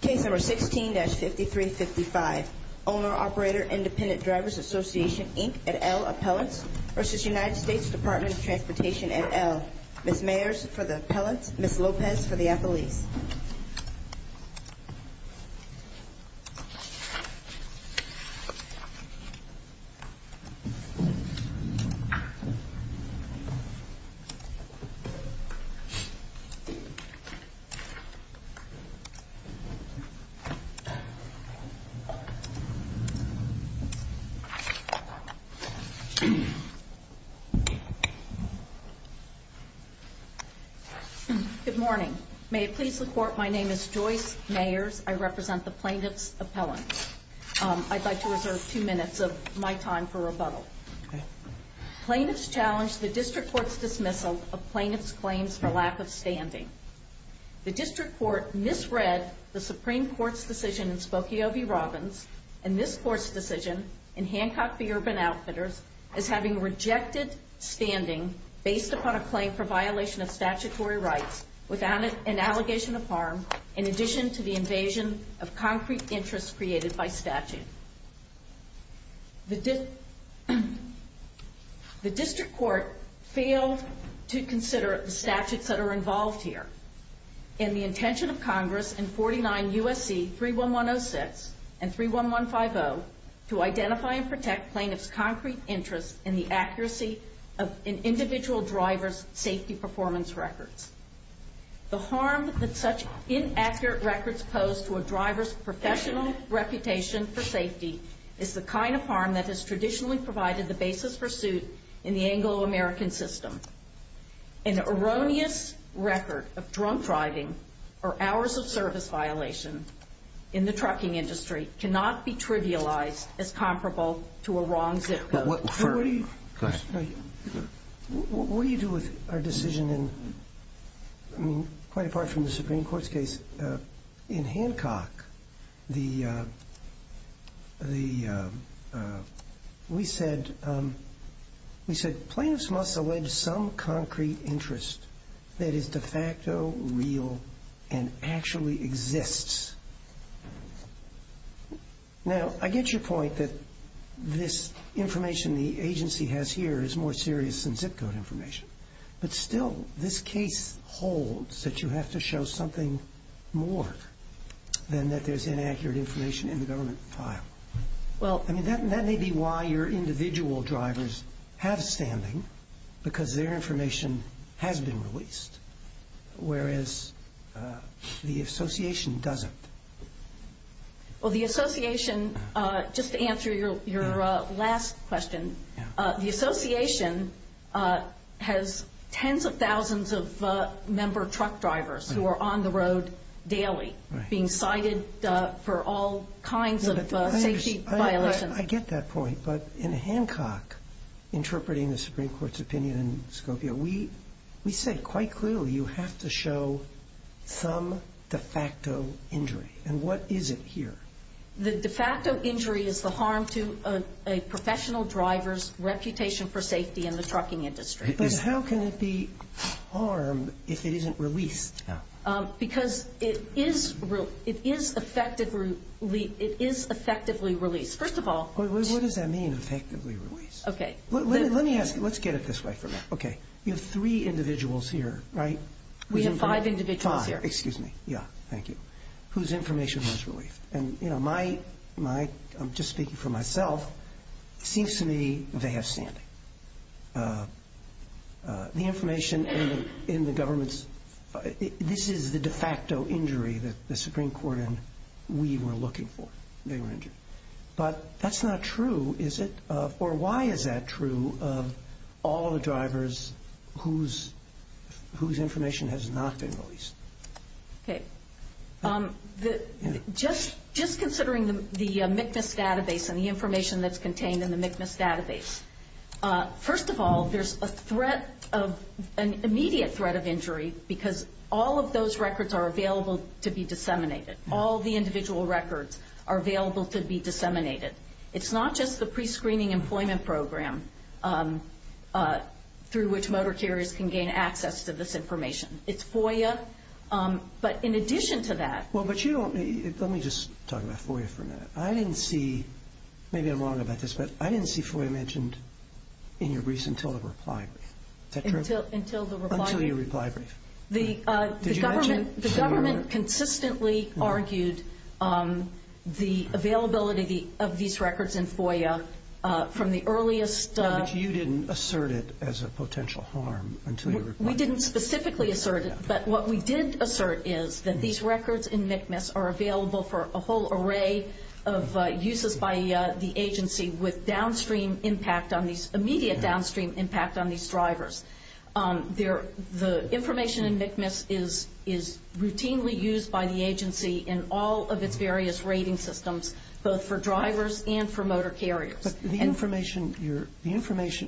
Case No. 16-5355 Owner-Operator Independent Drivers Association, Inc. et al. Appellants v. United States Department of Transportation et al. Ms. Mayers for the appellants, Ms. Lopez for the appellees. Good morning. May it please the court, my name is Joyce Mayers. I represent the plaintiff's appellants. I'd like to reserve two minutes of my time for rebuttal. Plaintiffs challenge the district court's dismissal of plaintiff's claims for lack of standing. The district court misread the Supreme Court's decision in Spokio v. Robbins and this court's decision in Hancock v. Urban Outfitters as having rejected standing based upon a claim for violation of statutory rights without an allegation of harm in addition to the invasion of concrete interest created by statute. The district court failed to consider the statutes that are involved here and the intention of Congress in 49 U.S.C. 31106 and 31150 to identify and protect plaintiff's concrete interest in the accuracy of an individual driver's safety performance records. The harm that such inaccurate records pose to a driver's professional reputation for safety is the kind of harm that has traditionally provided the basis for suit in the Anglo-American system. An erroneous record of drunk driving or hours of service violation in the trucking industry cannot be trivialized as comparable to a wrong zip code. What do you do with our decision in, I mean, quite apart from the Supreme Court's case, in Hancock, we said plaintiffs must allege some concrete interest that is de facto real and actually exists. Now, I get your point that this information the agency has here is more serious than zip code information, but still this case holds that you have to show something more than that there's inaccurate information in the government file. Well, I mean, that may be why your individual drivers have standing because their information has been released, whereas the association doesn't. Well, the association, just to answer your last question, the association has tens of thousands of member truck drivers who are on the road daily being cited for all kinds of safety violations. I get that point, but in Hancock, interpreting the Supreme Court's opinion in Scopio, we said quite clearly you have to show some de facto injury. And what is it here? The de facto injury is the harm to a professional driver's reputation for safety in the trucking industry. But how can it be harmed if it isn't released? Because it is effectively released. First of all. What does that mean, effectively released? Okay. Let me ask you. Let's get it this way for a minute. Okay. You have three individuals here, right? We have five individuals here. Five. Excuse me. Yeah. Thank you. Whose information was released. I'm just speaking for myself. It seems to me they have standing. The information in the government's, this is the de facto injury that the Supreme Court and we were looking for. They were injured. But that's not true, is it? Or why is that true of all the drivers whose information has not been released? Okay. Just considering the MCMIS database and the information that's contained in the MCMIS database. First of all, there's an immediate threat of injury because all of those records are available to be disseminated. All the individual records are available to be disseminated. It's not just the prescreening employment program through which motor carriers can gain access to this information. It's FOIA. But in addition to that. Well, but you don't, let me just talk about FOIA for a minute. I didn't see, maybe I'm wrong about this, but I didn't see FOIA mentioned in your briefs until the reply brief. Is that true? Until the reply brief. Until your reply brief. The government consistently argued the availability of these records in FOIA from the earliest. No, but you didn't assert it as a potential harm until your reply brief. We didn't specifically assert it. But what we did assert is that these records in MCMIS are available for a whole array of uses by the agency with downstream impact on these, immediate downstream impact on these drivers. The information in MCMIS is routinely used by the agency in all of its various rating systems, both for drivers and for motor carriers. But the information,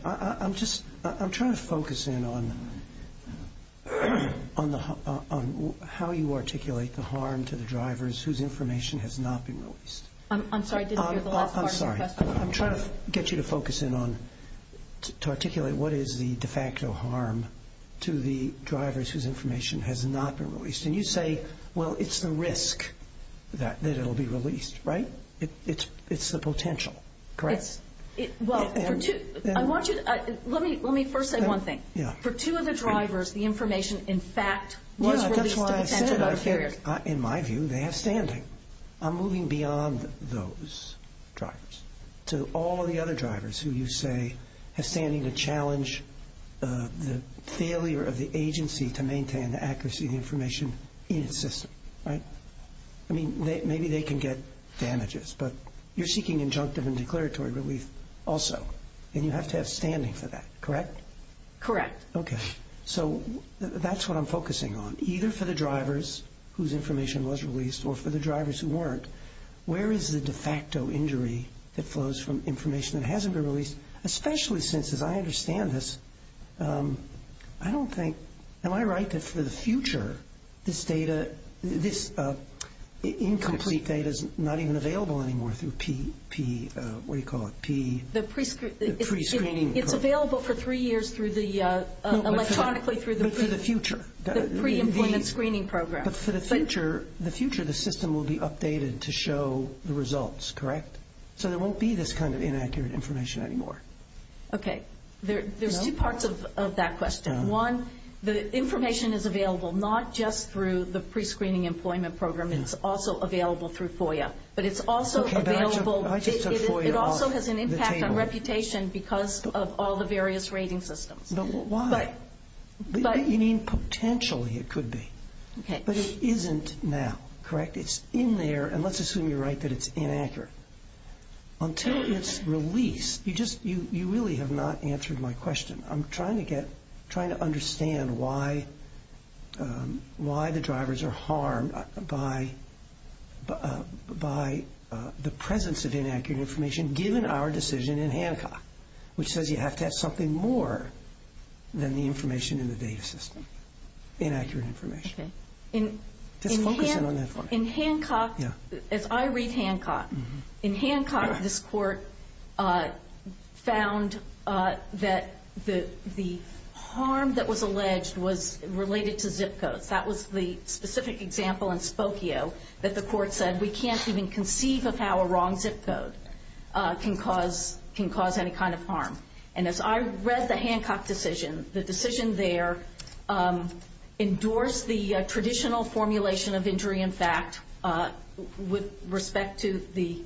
I'm just, I'm trying to focus in on how you articulate the harm to the drivers whose information has not been released. I'm sorry, I didn't hear the last part of your question. I'm sorry, I'm trying to get you to focus in on, to articulate what is the de facto harm to the drivers whose information has not been released. And you say, well, it's the risk that it will be released, right? It's the potential, correct? It's, well, for two, I want you to, let me first say one thing. Yeah. For two of the drivers, the information, in fact, was released to the potential motor carriers. Yeah, that's why I said it. In my view, they have standing. I'm moving beyond those drivers to all of the other drivers who you say have standing to challenge the failure of the agency to maintain the accuracy of the information in its system, right? I mean, maybe they can get damages, but you're seeking injunctive and declaratory relief also, and you have to have standing for that, correct? Correct. Okay. So that's what I'm focusing on. Either for the drivers whose information was released or for the drivers who weren't, where is the de facto injury that flows from information that hasn't been released, especially since, as I understand this, I don't think, am I right that for the future, this incomplete data is not even available anymore through P, what do you call it, pre-screening. It's available for three years electronically through the pre-employment screening program. But for the future, the system will be updated to show the results, correct? So there won't be this kind of inaccurate information anymore. Okay. There's two parts of that question. One, the information is available not just through the pre-screening employment program. It's also available through FOIA. But it's also available, it also has an impact on reputation because of all the various rating systems. But why? You mean potentially it could be. Okay. But it isn't now, correct? It's in there, and let's assume you're right that it's inaccurate. Until its release, you really have not answered my question. I'm trying to get, trying to understand why the drivers are harmed by the presence of inaccurate information given our decision in Hancock, which says you have to have something more than the information in the data system, inaccurate information. Okay. In Hancock, as I read Hancock, in Hancock, this court found that the harm that was alleged was related to zip codes. That was the specific example in Spokio that the court said, we can't even conceive of how a wrong zip code can cause any kind of harm. And as I read the Hancock decision, the decision there endorsed the traditional formulation of injury in fact with respect to the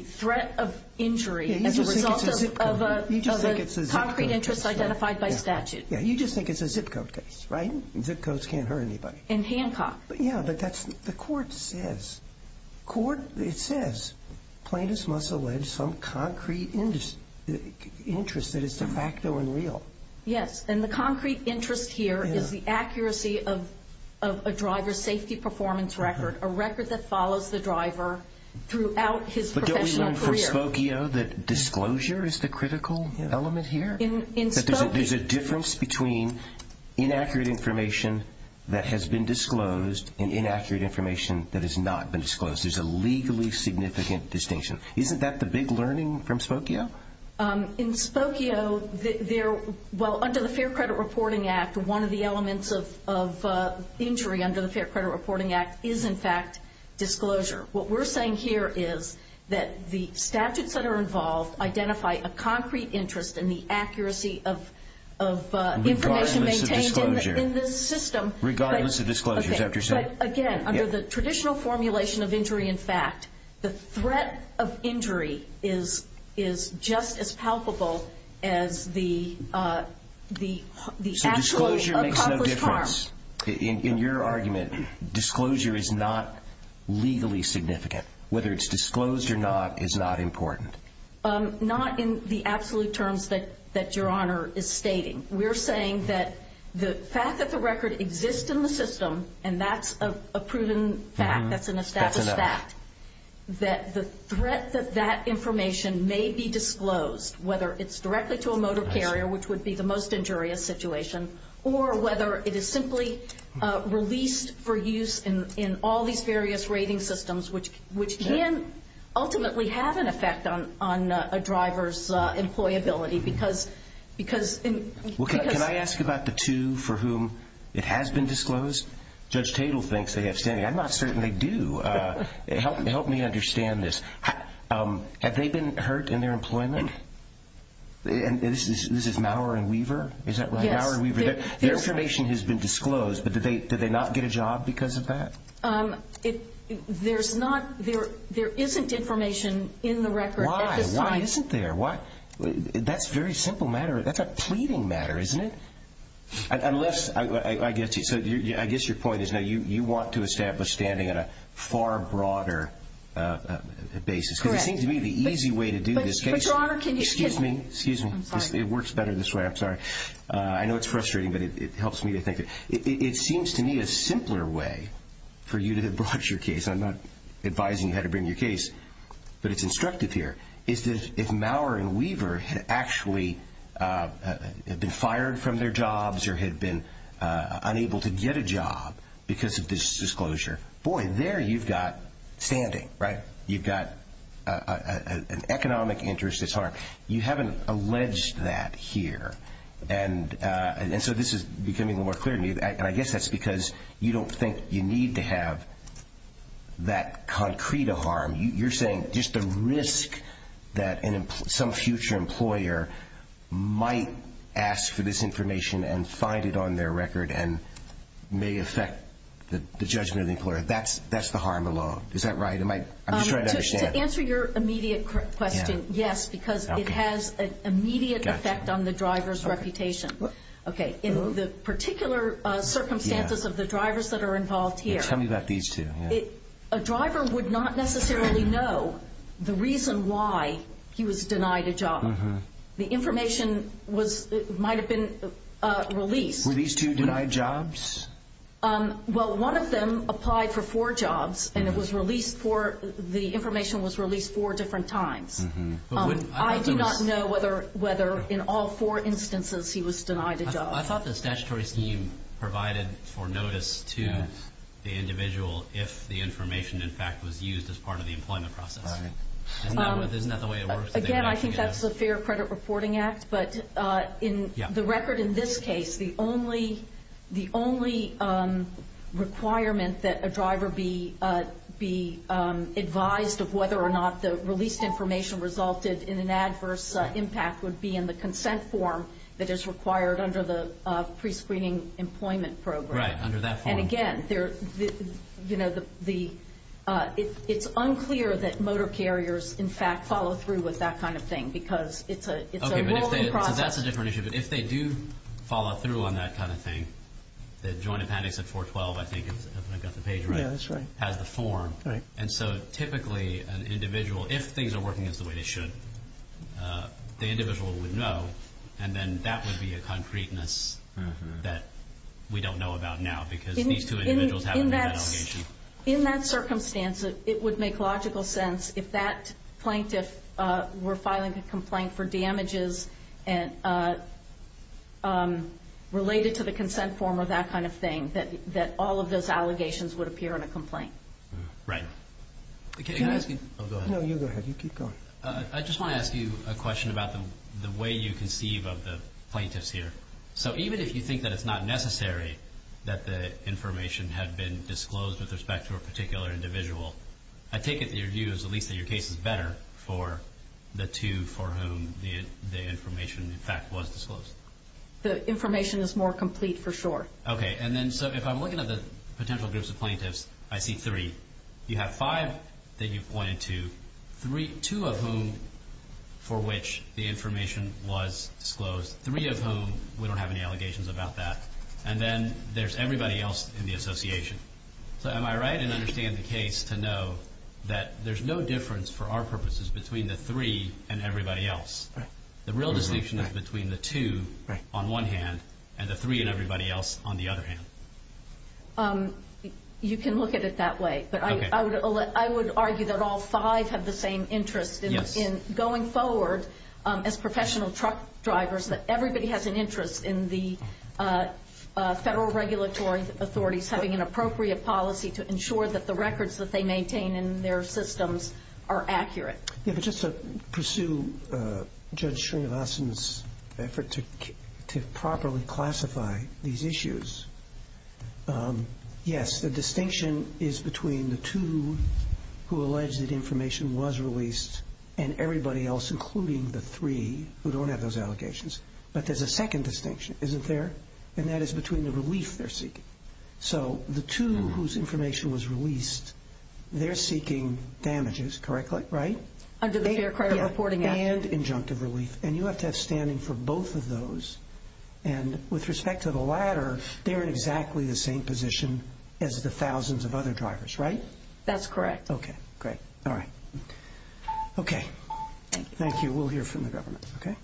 threat of injury as a result of a concrete interest identified by statute. You just think it's a zip code case, right? Zip codes can't hurt anybody. In Hancock. Yeah, but that's, the court says, court, it says plaintiffs must allege some concrete interest that is de facto and real. Yes, and the concrete interest here is the accuracy of a driver's safety performance record, a record that follows the driver throughout his professional career. But don't we learn from Spokio that disclosure is the critical element here? In Spokio. That there's a difference between inaccurate information that has been disclosed and inaccurate information that has not been disclosed. There's a legally significant distinction. Isn't that the big learning from Spokio? In Spokio, there, well, under the Fair Credit Reporting Act, one of the elements of injury under the Fair Credit Reporting Act is, in fact, disclosure. What we're saying here is that the statutes that are involved identify a concrete interest in the accuracy of information maintained in the system. Regardless of disclosure. But, again, under the traditional formulation of injury in fact, the threat of injury is just as palpable as the actual accomplished harm. So disclosure makes no difference. In your argument, disclosure is not legally significant. Whether it's disclosed or not is not important. Not in the absolute terms that Your Honor is stating. We're saying that the fact that the record exists in the system, and that's a proven fact, that's an established fact, that the threat that that information may be disclosed, whether it's directly to a motor carrier, which would be the most injurious situation, or whether it is simply released for use in all these various rating systems, which can ultimately have an effect on a driver's employability. Can I ask about the two for whom it has been disclosed? Judge Tatel thinks they have standing. I'm not certain they do. Help me understand this. Have they been hurt in their employment? This is Maurer and Weaver? Yes. Their information has been disclosed, but did they not get a job because of that? There isn't information in the record. Why? Why isn't there? That's a very simple matter. That's a pleading matter, isn't it? I guess your point is you want to establish standing on a far broader basis. Correct. Because it seems to me the easy way to do this case. But, Your Honor, can you excuse me? Excuse me. It works better this way. I'm sorry. I know it's frustrating, but it helps me to think. It seems to me a simpler way for you to broach your case. I'm not advising you how to bring your case, but it's instructive here. If Maurer and Weaver had actually been fired from their jobs or had been unable to get a job because of this disclosure, boy, there you've got standing. You've got an economic interest that's harmed. You haven't alleged that here. This is becoming more clear to me. I guess that's because you don't think you need to have that concrete of harm. You're saying just the risk that some future employer might ask for this information and find it on their record and may affect the judgment of the employer, that's the harm alone. Is that right? I'm just trying to understand. To answer your immediate question, yes, because it has an immediate effect on the driver's reputation. In the particular circumstances of the drivers that are involved here, Tell me about these two. A driver would not necessarily know the reason why he was denied a job. The information might have been released. Were these two denied jobs? Well, one of them applied for four jobs, and the information was released four different times. I do not know whether in all four instances he was denied a job. I thought the statutory scheme provided for notice to the individual if the information, in fact, was used as part of the employment process. Isn't that the way it works? Again, I think that's the Fair Credit Reporting Act, but the record in this case, the only requirement that a driver be advised of whether or not the released information resulted in an adverse impact would be in the consent form that is required under the prescreening employment program. Right, under that form. Again, it's unclear that motor carriers, in fact, follow through with that kind of thing because it's a rolling process. That's a different issue, but if they do follow through on that kind of thing, the Joint Appendix at 412, I think, if I've got the page right, has the form. Typically, an individual, if things are working as the way they should, the individual would know, and then that would be a concreteness that we don't know about now because these two individuals haven't made that allegation. In that circumstance, it would make logical sense, if that plaintiff were filing a complaint for damages related to the consent form or that kind of thing, that all of those allegations would appear in a complaint. Right. Can I ask you? No, you go ahead. You keep going. I just want to ask you a question about the way you conceive of the plaintiffs here. Even if you think that it's not necessary that the information had been disclosed with respect to a particular individual, I take it that your view is at least that your case is better for the two for whom the information, in fact, was disclosed. The information is more complete, for sure. Okay. If I'm looking at the potential groups of plaintiffs, I see three. You have five that you've pointed to. Two of whom for which the information was disclosed, three of whom we don't have any allegations about that, and then there's everybody else in the association. Am I right in understanding the case to know that there's no difference for our purposes between the three and everybody else? Right. The real distinction is between the two on one hand and the three and everybody else on the other hand. You can look at it that way. I would argue that all five have the same interest in going forward as professional truck drivers, that everybody has an interest in the federal regulatory authorities having an appropriate policy to ensure that the records that they maintain in their systems are accurate. Just to pursue Judge Srinivasan's effort to properly classify these issues, yes, the distinction is between the two who allege that information was released and everybody else, including the three who don't have those allegations. But there's a second distinction, isn't there? And that is between the relief they're seeking. So the two whose information was released, they're seeking damages, correctly, right? Under the Fair Credit Reporting Act. And injunctive relief. And you have to have standing for both of those. And with respect to the latter, they're in exactly the same position as the thousands of other drivers, right? That's correct. Okay, great. All right. Okay. Thank you. Thank you. We'll hear from the government, okay?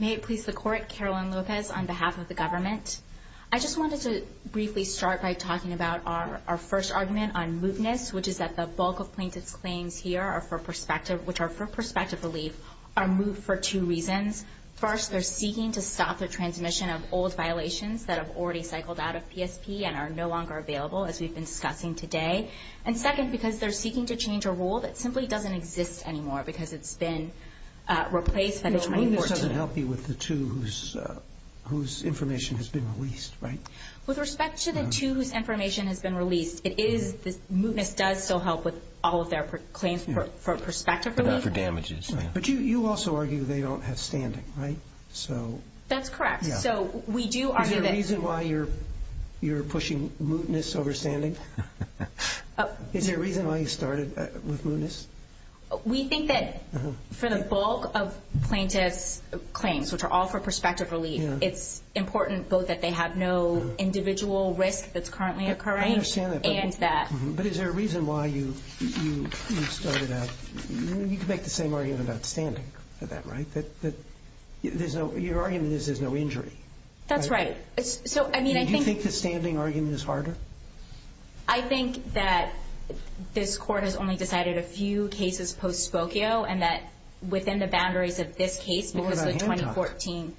May it please the Court, Caroline Lopez on behalf of the government. I just wanted to briefly start by talking about our first argument on mootness, which is that the bulk of plaintiff's claims here, which are for prospective relief, are moot for two reasons. First, they're seeking to stop the transmission of old violations that have already cycled out of PSP and are no longer available, as we've been discussing today. And second, because they're seeking to change a rule that simply doesn't exist anymore because it's been replaced. Mootness doesn't help you with the two whose information has been released, right? With respect to the two whose information has been released, mootness does still help with all of their claims for prospective relief. But not for damages. But you also argue they don't have standing, right? That's correct. Is there a reason why you're pushing mootness over standing? Is there a reason why you started with mootness? We think that for the bulk of plaintiff's claims, which are all for prospective relief, it's important both that they have no individual risk that's currently occurring and that. But is there a reason why you started out? You could make the same argument about standing for that, right? Your argument is there's no injury. That's right. Do you think the standing argument is harder? I think that this court has only decided a few cases post-Spokio and that within the boundaries of this case because of 2014,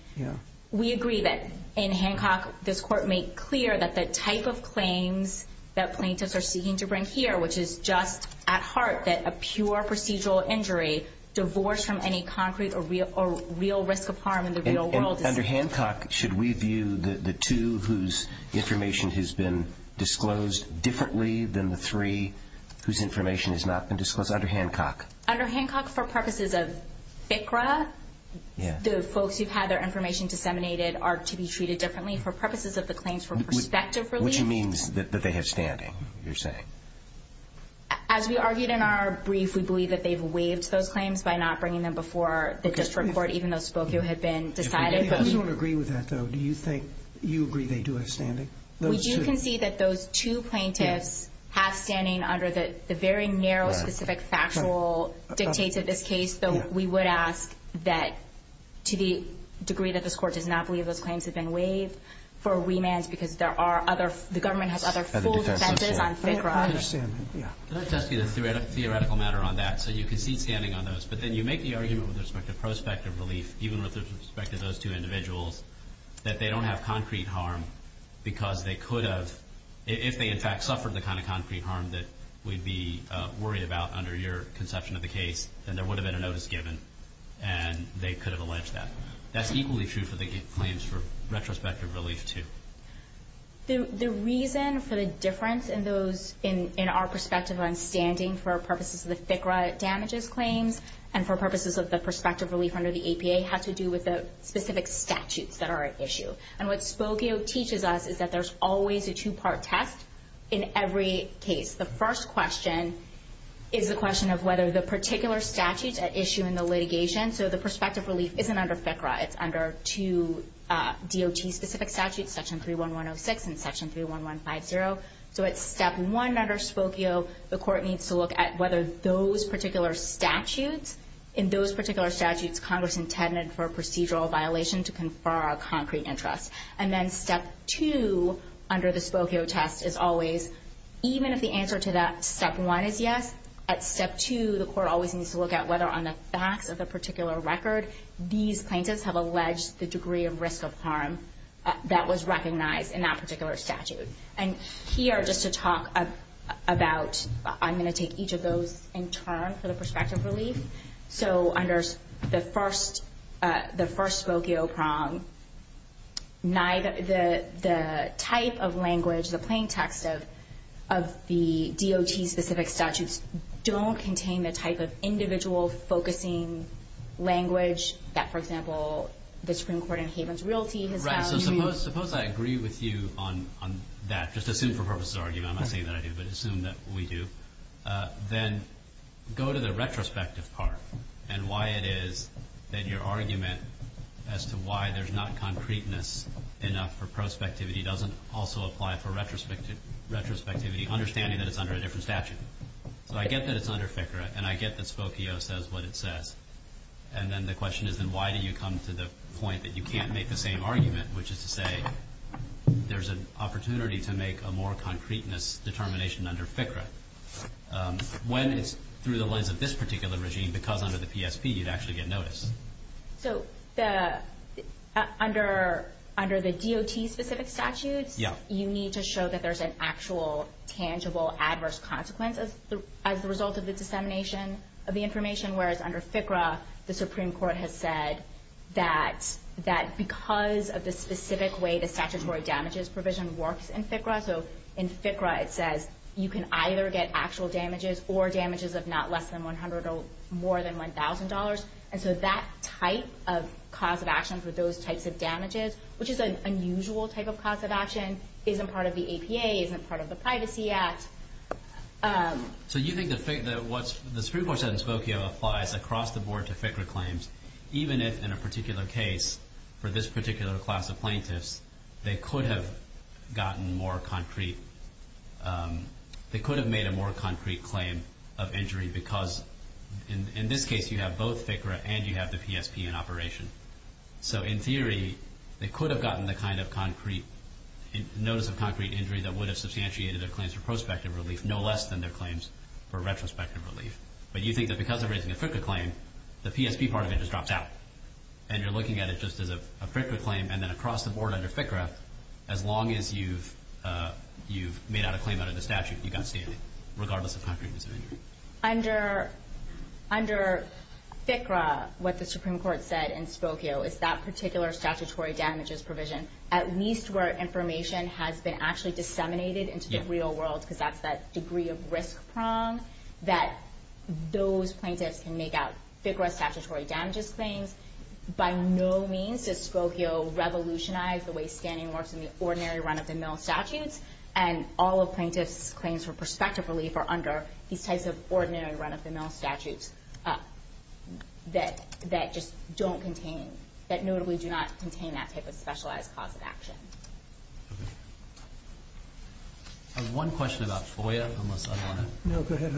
we agree that in Hancock this court made clear that the type of claims that plaintiffs are seeking to bring here, which is just at heart, that a pure procedural injury divorced from any concrete or real risk of harm in the real world. Under Hancock, should we view the two whose information has been disclosed differently than the three whose information has not been disclosed under Hancock? Under Hancock, for purposes of FCRA, the folks who've had their information disseminated are to be treated differently for purposes of the claims for prospective relief. Which means that they have standing, you're saying? As we argued in our brief, we believe that they've waived those claims by not bringing them before the district court even though Spokio had been decided. We don't agree with that, though. Do you think you agree they do have standing? We do concede that those two plaintiffs have standing under the very narrow specific factual dictates of this case, though we would ask that to the degree that this court does not believe those claims have been waived for remands because the government has other full defenses on FCRA. Can I test you on a theoretical matter on that? So you concede standing on those, but then you make the argument with respect to prospective relief, even with respect to those two individuals, that they don't have concrete harm because they could have, if they in fact suffered the kind of concrete harm that we'd be worried about under your conception of the case, then there would have been a notice given and they could have alleged that. That's equally true for the claims for retrospective relief, too. The reason for the difference in our perspective on standing for purposes of the FCRA damages claims and for purposes of the prospective relief under the APA has to do with the specific statutes that are at issue. And what Spokio teaches us is that there's always a two-part test in every case. The first question is the question of whether the particular statutes at issue in the litigation, so the prospective relief isn't under FCRA, it's under two DOT-specific statutes, Section 31106 and Section 31150. So at Step 1 under Spokio, the court needs to look at whether those particular statutes, in those particular statutes Congress intended for a procedural violation to confer a concrete interest. And then Step 2 under the Spokio test is always, even if the answer to that Step 1 is yes, at Step 2 the court always needs to look at whether on the facts of the particular record these plaintiffs have alleged the degree of risk of harm that was recognized in that particular statute. And here, just to talk about, I'm going to take each of those in turn for the prospective relief. So under the first Spokio prong, the type of language, the plain text of the DOT-specific statutes don't contain the type of individual focusing language that, for example, the Supreme Court in Havens Realty has found. Right. So suppose I agree with you on that, just assume for purposes of argument. I'm not saying that I do, but assume that we do. Then go to the retrospective part and why it is that your argument as to why there's not concreteness enough for I get that it's under FCRA, and I get that Spokio says what it says. And then the question is then why do you come to the point that you can't make the same argument, which is to say there's an opportunity to make a more concreteness determination under FCRA, when it's through the lens of this particular regime because under the PSP you'd actually get notice. So under the DOT-specific statutes, you need to show that there's an actual, tangible, adverse consequence as the result of the dissemination of the information, whereas under FCRA the Supreme Court has said that because of the specific way the statutory damages provision works in FCRA, so in FCRA it says you can either get actual damages or damages of not less than $100 or more than $1,000. And so that type of cause of action for those types of damages, which is an unusual type of cause of action, isn't part of the APA, isn't part of the Privacy Act. So you think that what the Supreme Court said in Spokio applies across the board to FCRA claims, even if in a particular case for this particular class of plaintiffs they could have made a more concrete claim of injury because in this case you have both FCRA and you have the PSP in operation. So in theory, they could have gotten the kind of notice of concrete injury that would have substantiated their claims for prospective relief, no less than their claims for retrospective relief. But you think that because they're raising a FCRA claim, the PSP part of it just drops out. And you're looking at it just as a FCRA claim and then across the board under FCRA, as long as you've made out a claim under the statute, you've got standing, regardless of concreteness of injury. Under FCRA, what the Supreme Court said in Spokio is that particular statutory damages provision, at least where information has been actually disseminated into the real world, because that's that degree of risk prong, that those plaintiffs can make out FCRA statutory damages claims. By no means does Spokio revolutionize the way standing works in the ordinary run-of-the-mill statutes. And all of plaintiffs' claims for prospective relief are under these types of ordinary run-of-the-mill statutes that just don't contain, that notably do not contain that type of specialized cause of action. I have one question about FOIA. No, go ahead.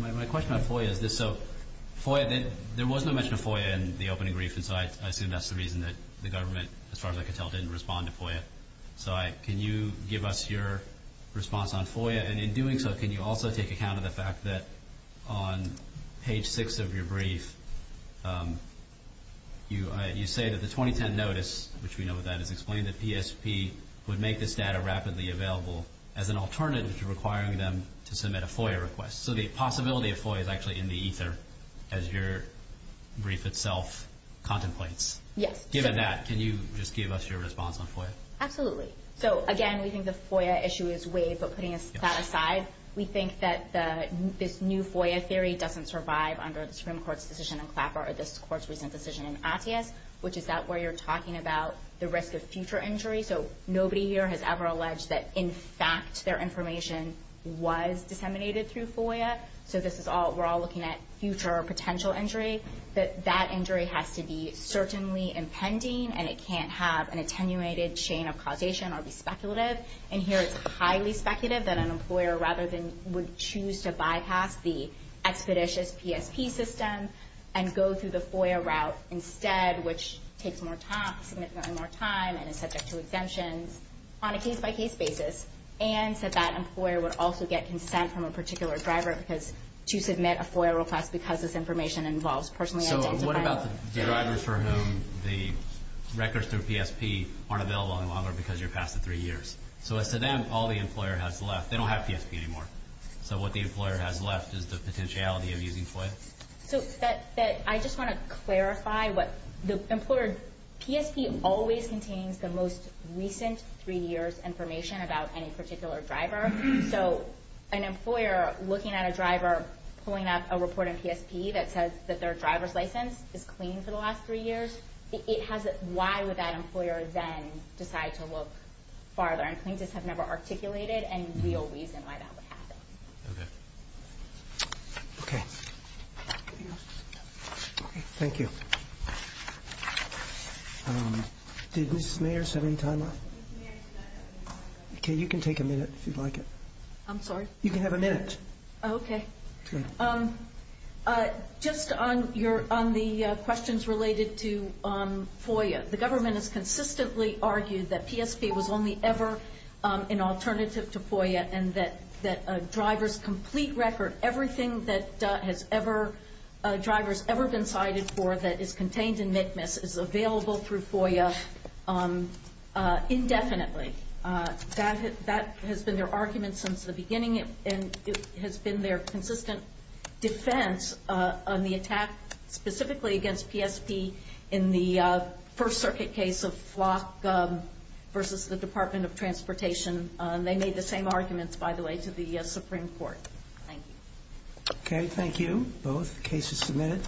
My question about FOIA is this. So FOIA, there was no mention of FOIA in the opening brief, and so I assume that's the reason that the government, as far as I could tell, didn't respond to FOIA. So can you give us your response on FOIA? And in doing so, can you also take account of the fact that on page 6 of your brief, you say that the 2010 notice, which we know that is explained at PSP, would make this data rapidly available as an alternative to requiring them to submit a FOIA request. So the possibility of FOIA is actually in the ether, as your brief itself contemplates. Yes. Given that, can you just give us your response on FOIA? Absolutely. So, again, we think the FOIA issue is waived, but putting that aside, we think that this new FOIA theory doesn't survive under the Supreme Court's decision in Clapper or this Court's recent decision in Attias, which is that where you're talking about the risk of future injury. So nobody here has ever alleged that, in fact, their information was disseminated through FOIA. So this is all, we're all looking at future or potential injury. That that injury has to be certainly impending, and it can't have an attenuated chain of causation or be speculative. And here it's highly speculative that an employer, rather than would choose to bypass the expeditious PSP system and go through the FOIA route instead, which takes more time, significantly more time, and is subject to exemptions on a case-by-case basis, and that that employer would also get consent from a particular driver to submit a FOIA request because this information involves personally identifying the driver. So what about the drivers for whom the records through PSP aren't available any longer because you're past the three years? So as to them, all the employer has left, they don't have PSP anymore. So what the employer has left is the potentiality of using FOIA. So I just want to clarify what the employer, PSP always contains the most recent three years information about any particular driver. So an employer looking at a driver pulling up a report in PSP that says that their driver's license is clean for the last three years, why would that employer then decide to look farther? And plaintiffs have never articulated any real reason why that would happen. Okay. Thank you. Did Mrs. Mayer have any time left? Okay, you can take a minute if you'd like it. I'm sorry? You can have a minute. Okay. Just on the questions related to FOIA, the government has consistently argued that PSP was only ever an alternative to FOIA and that a driver's complete record, everything that a driver's ever been cited for that is contained in MCMIS is available through FOIA indefinitely. That has been their argument since the beginning and it has been their consistent defense on the attack specifically against PSP in the First Circuit case of Flock versus the Department of Transportation. They made the same arguments, by the way, to the Supreme Court. Thank you. Okay, thank you. Both cases submitted.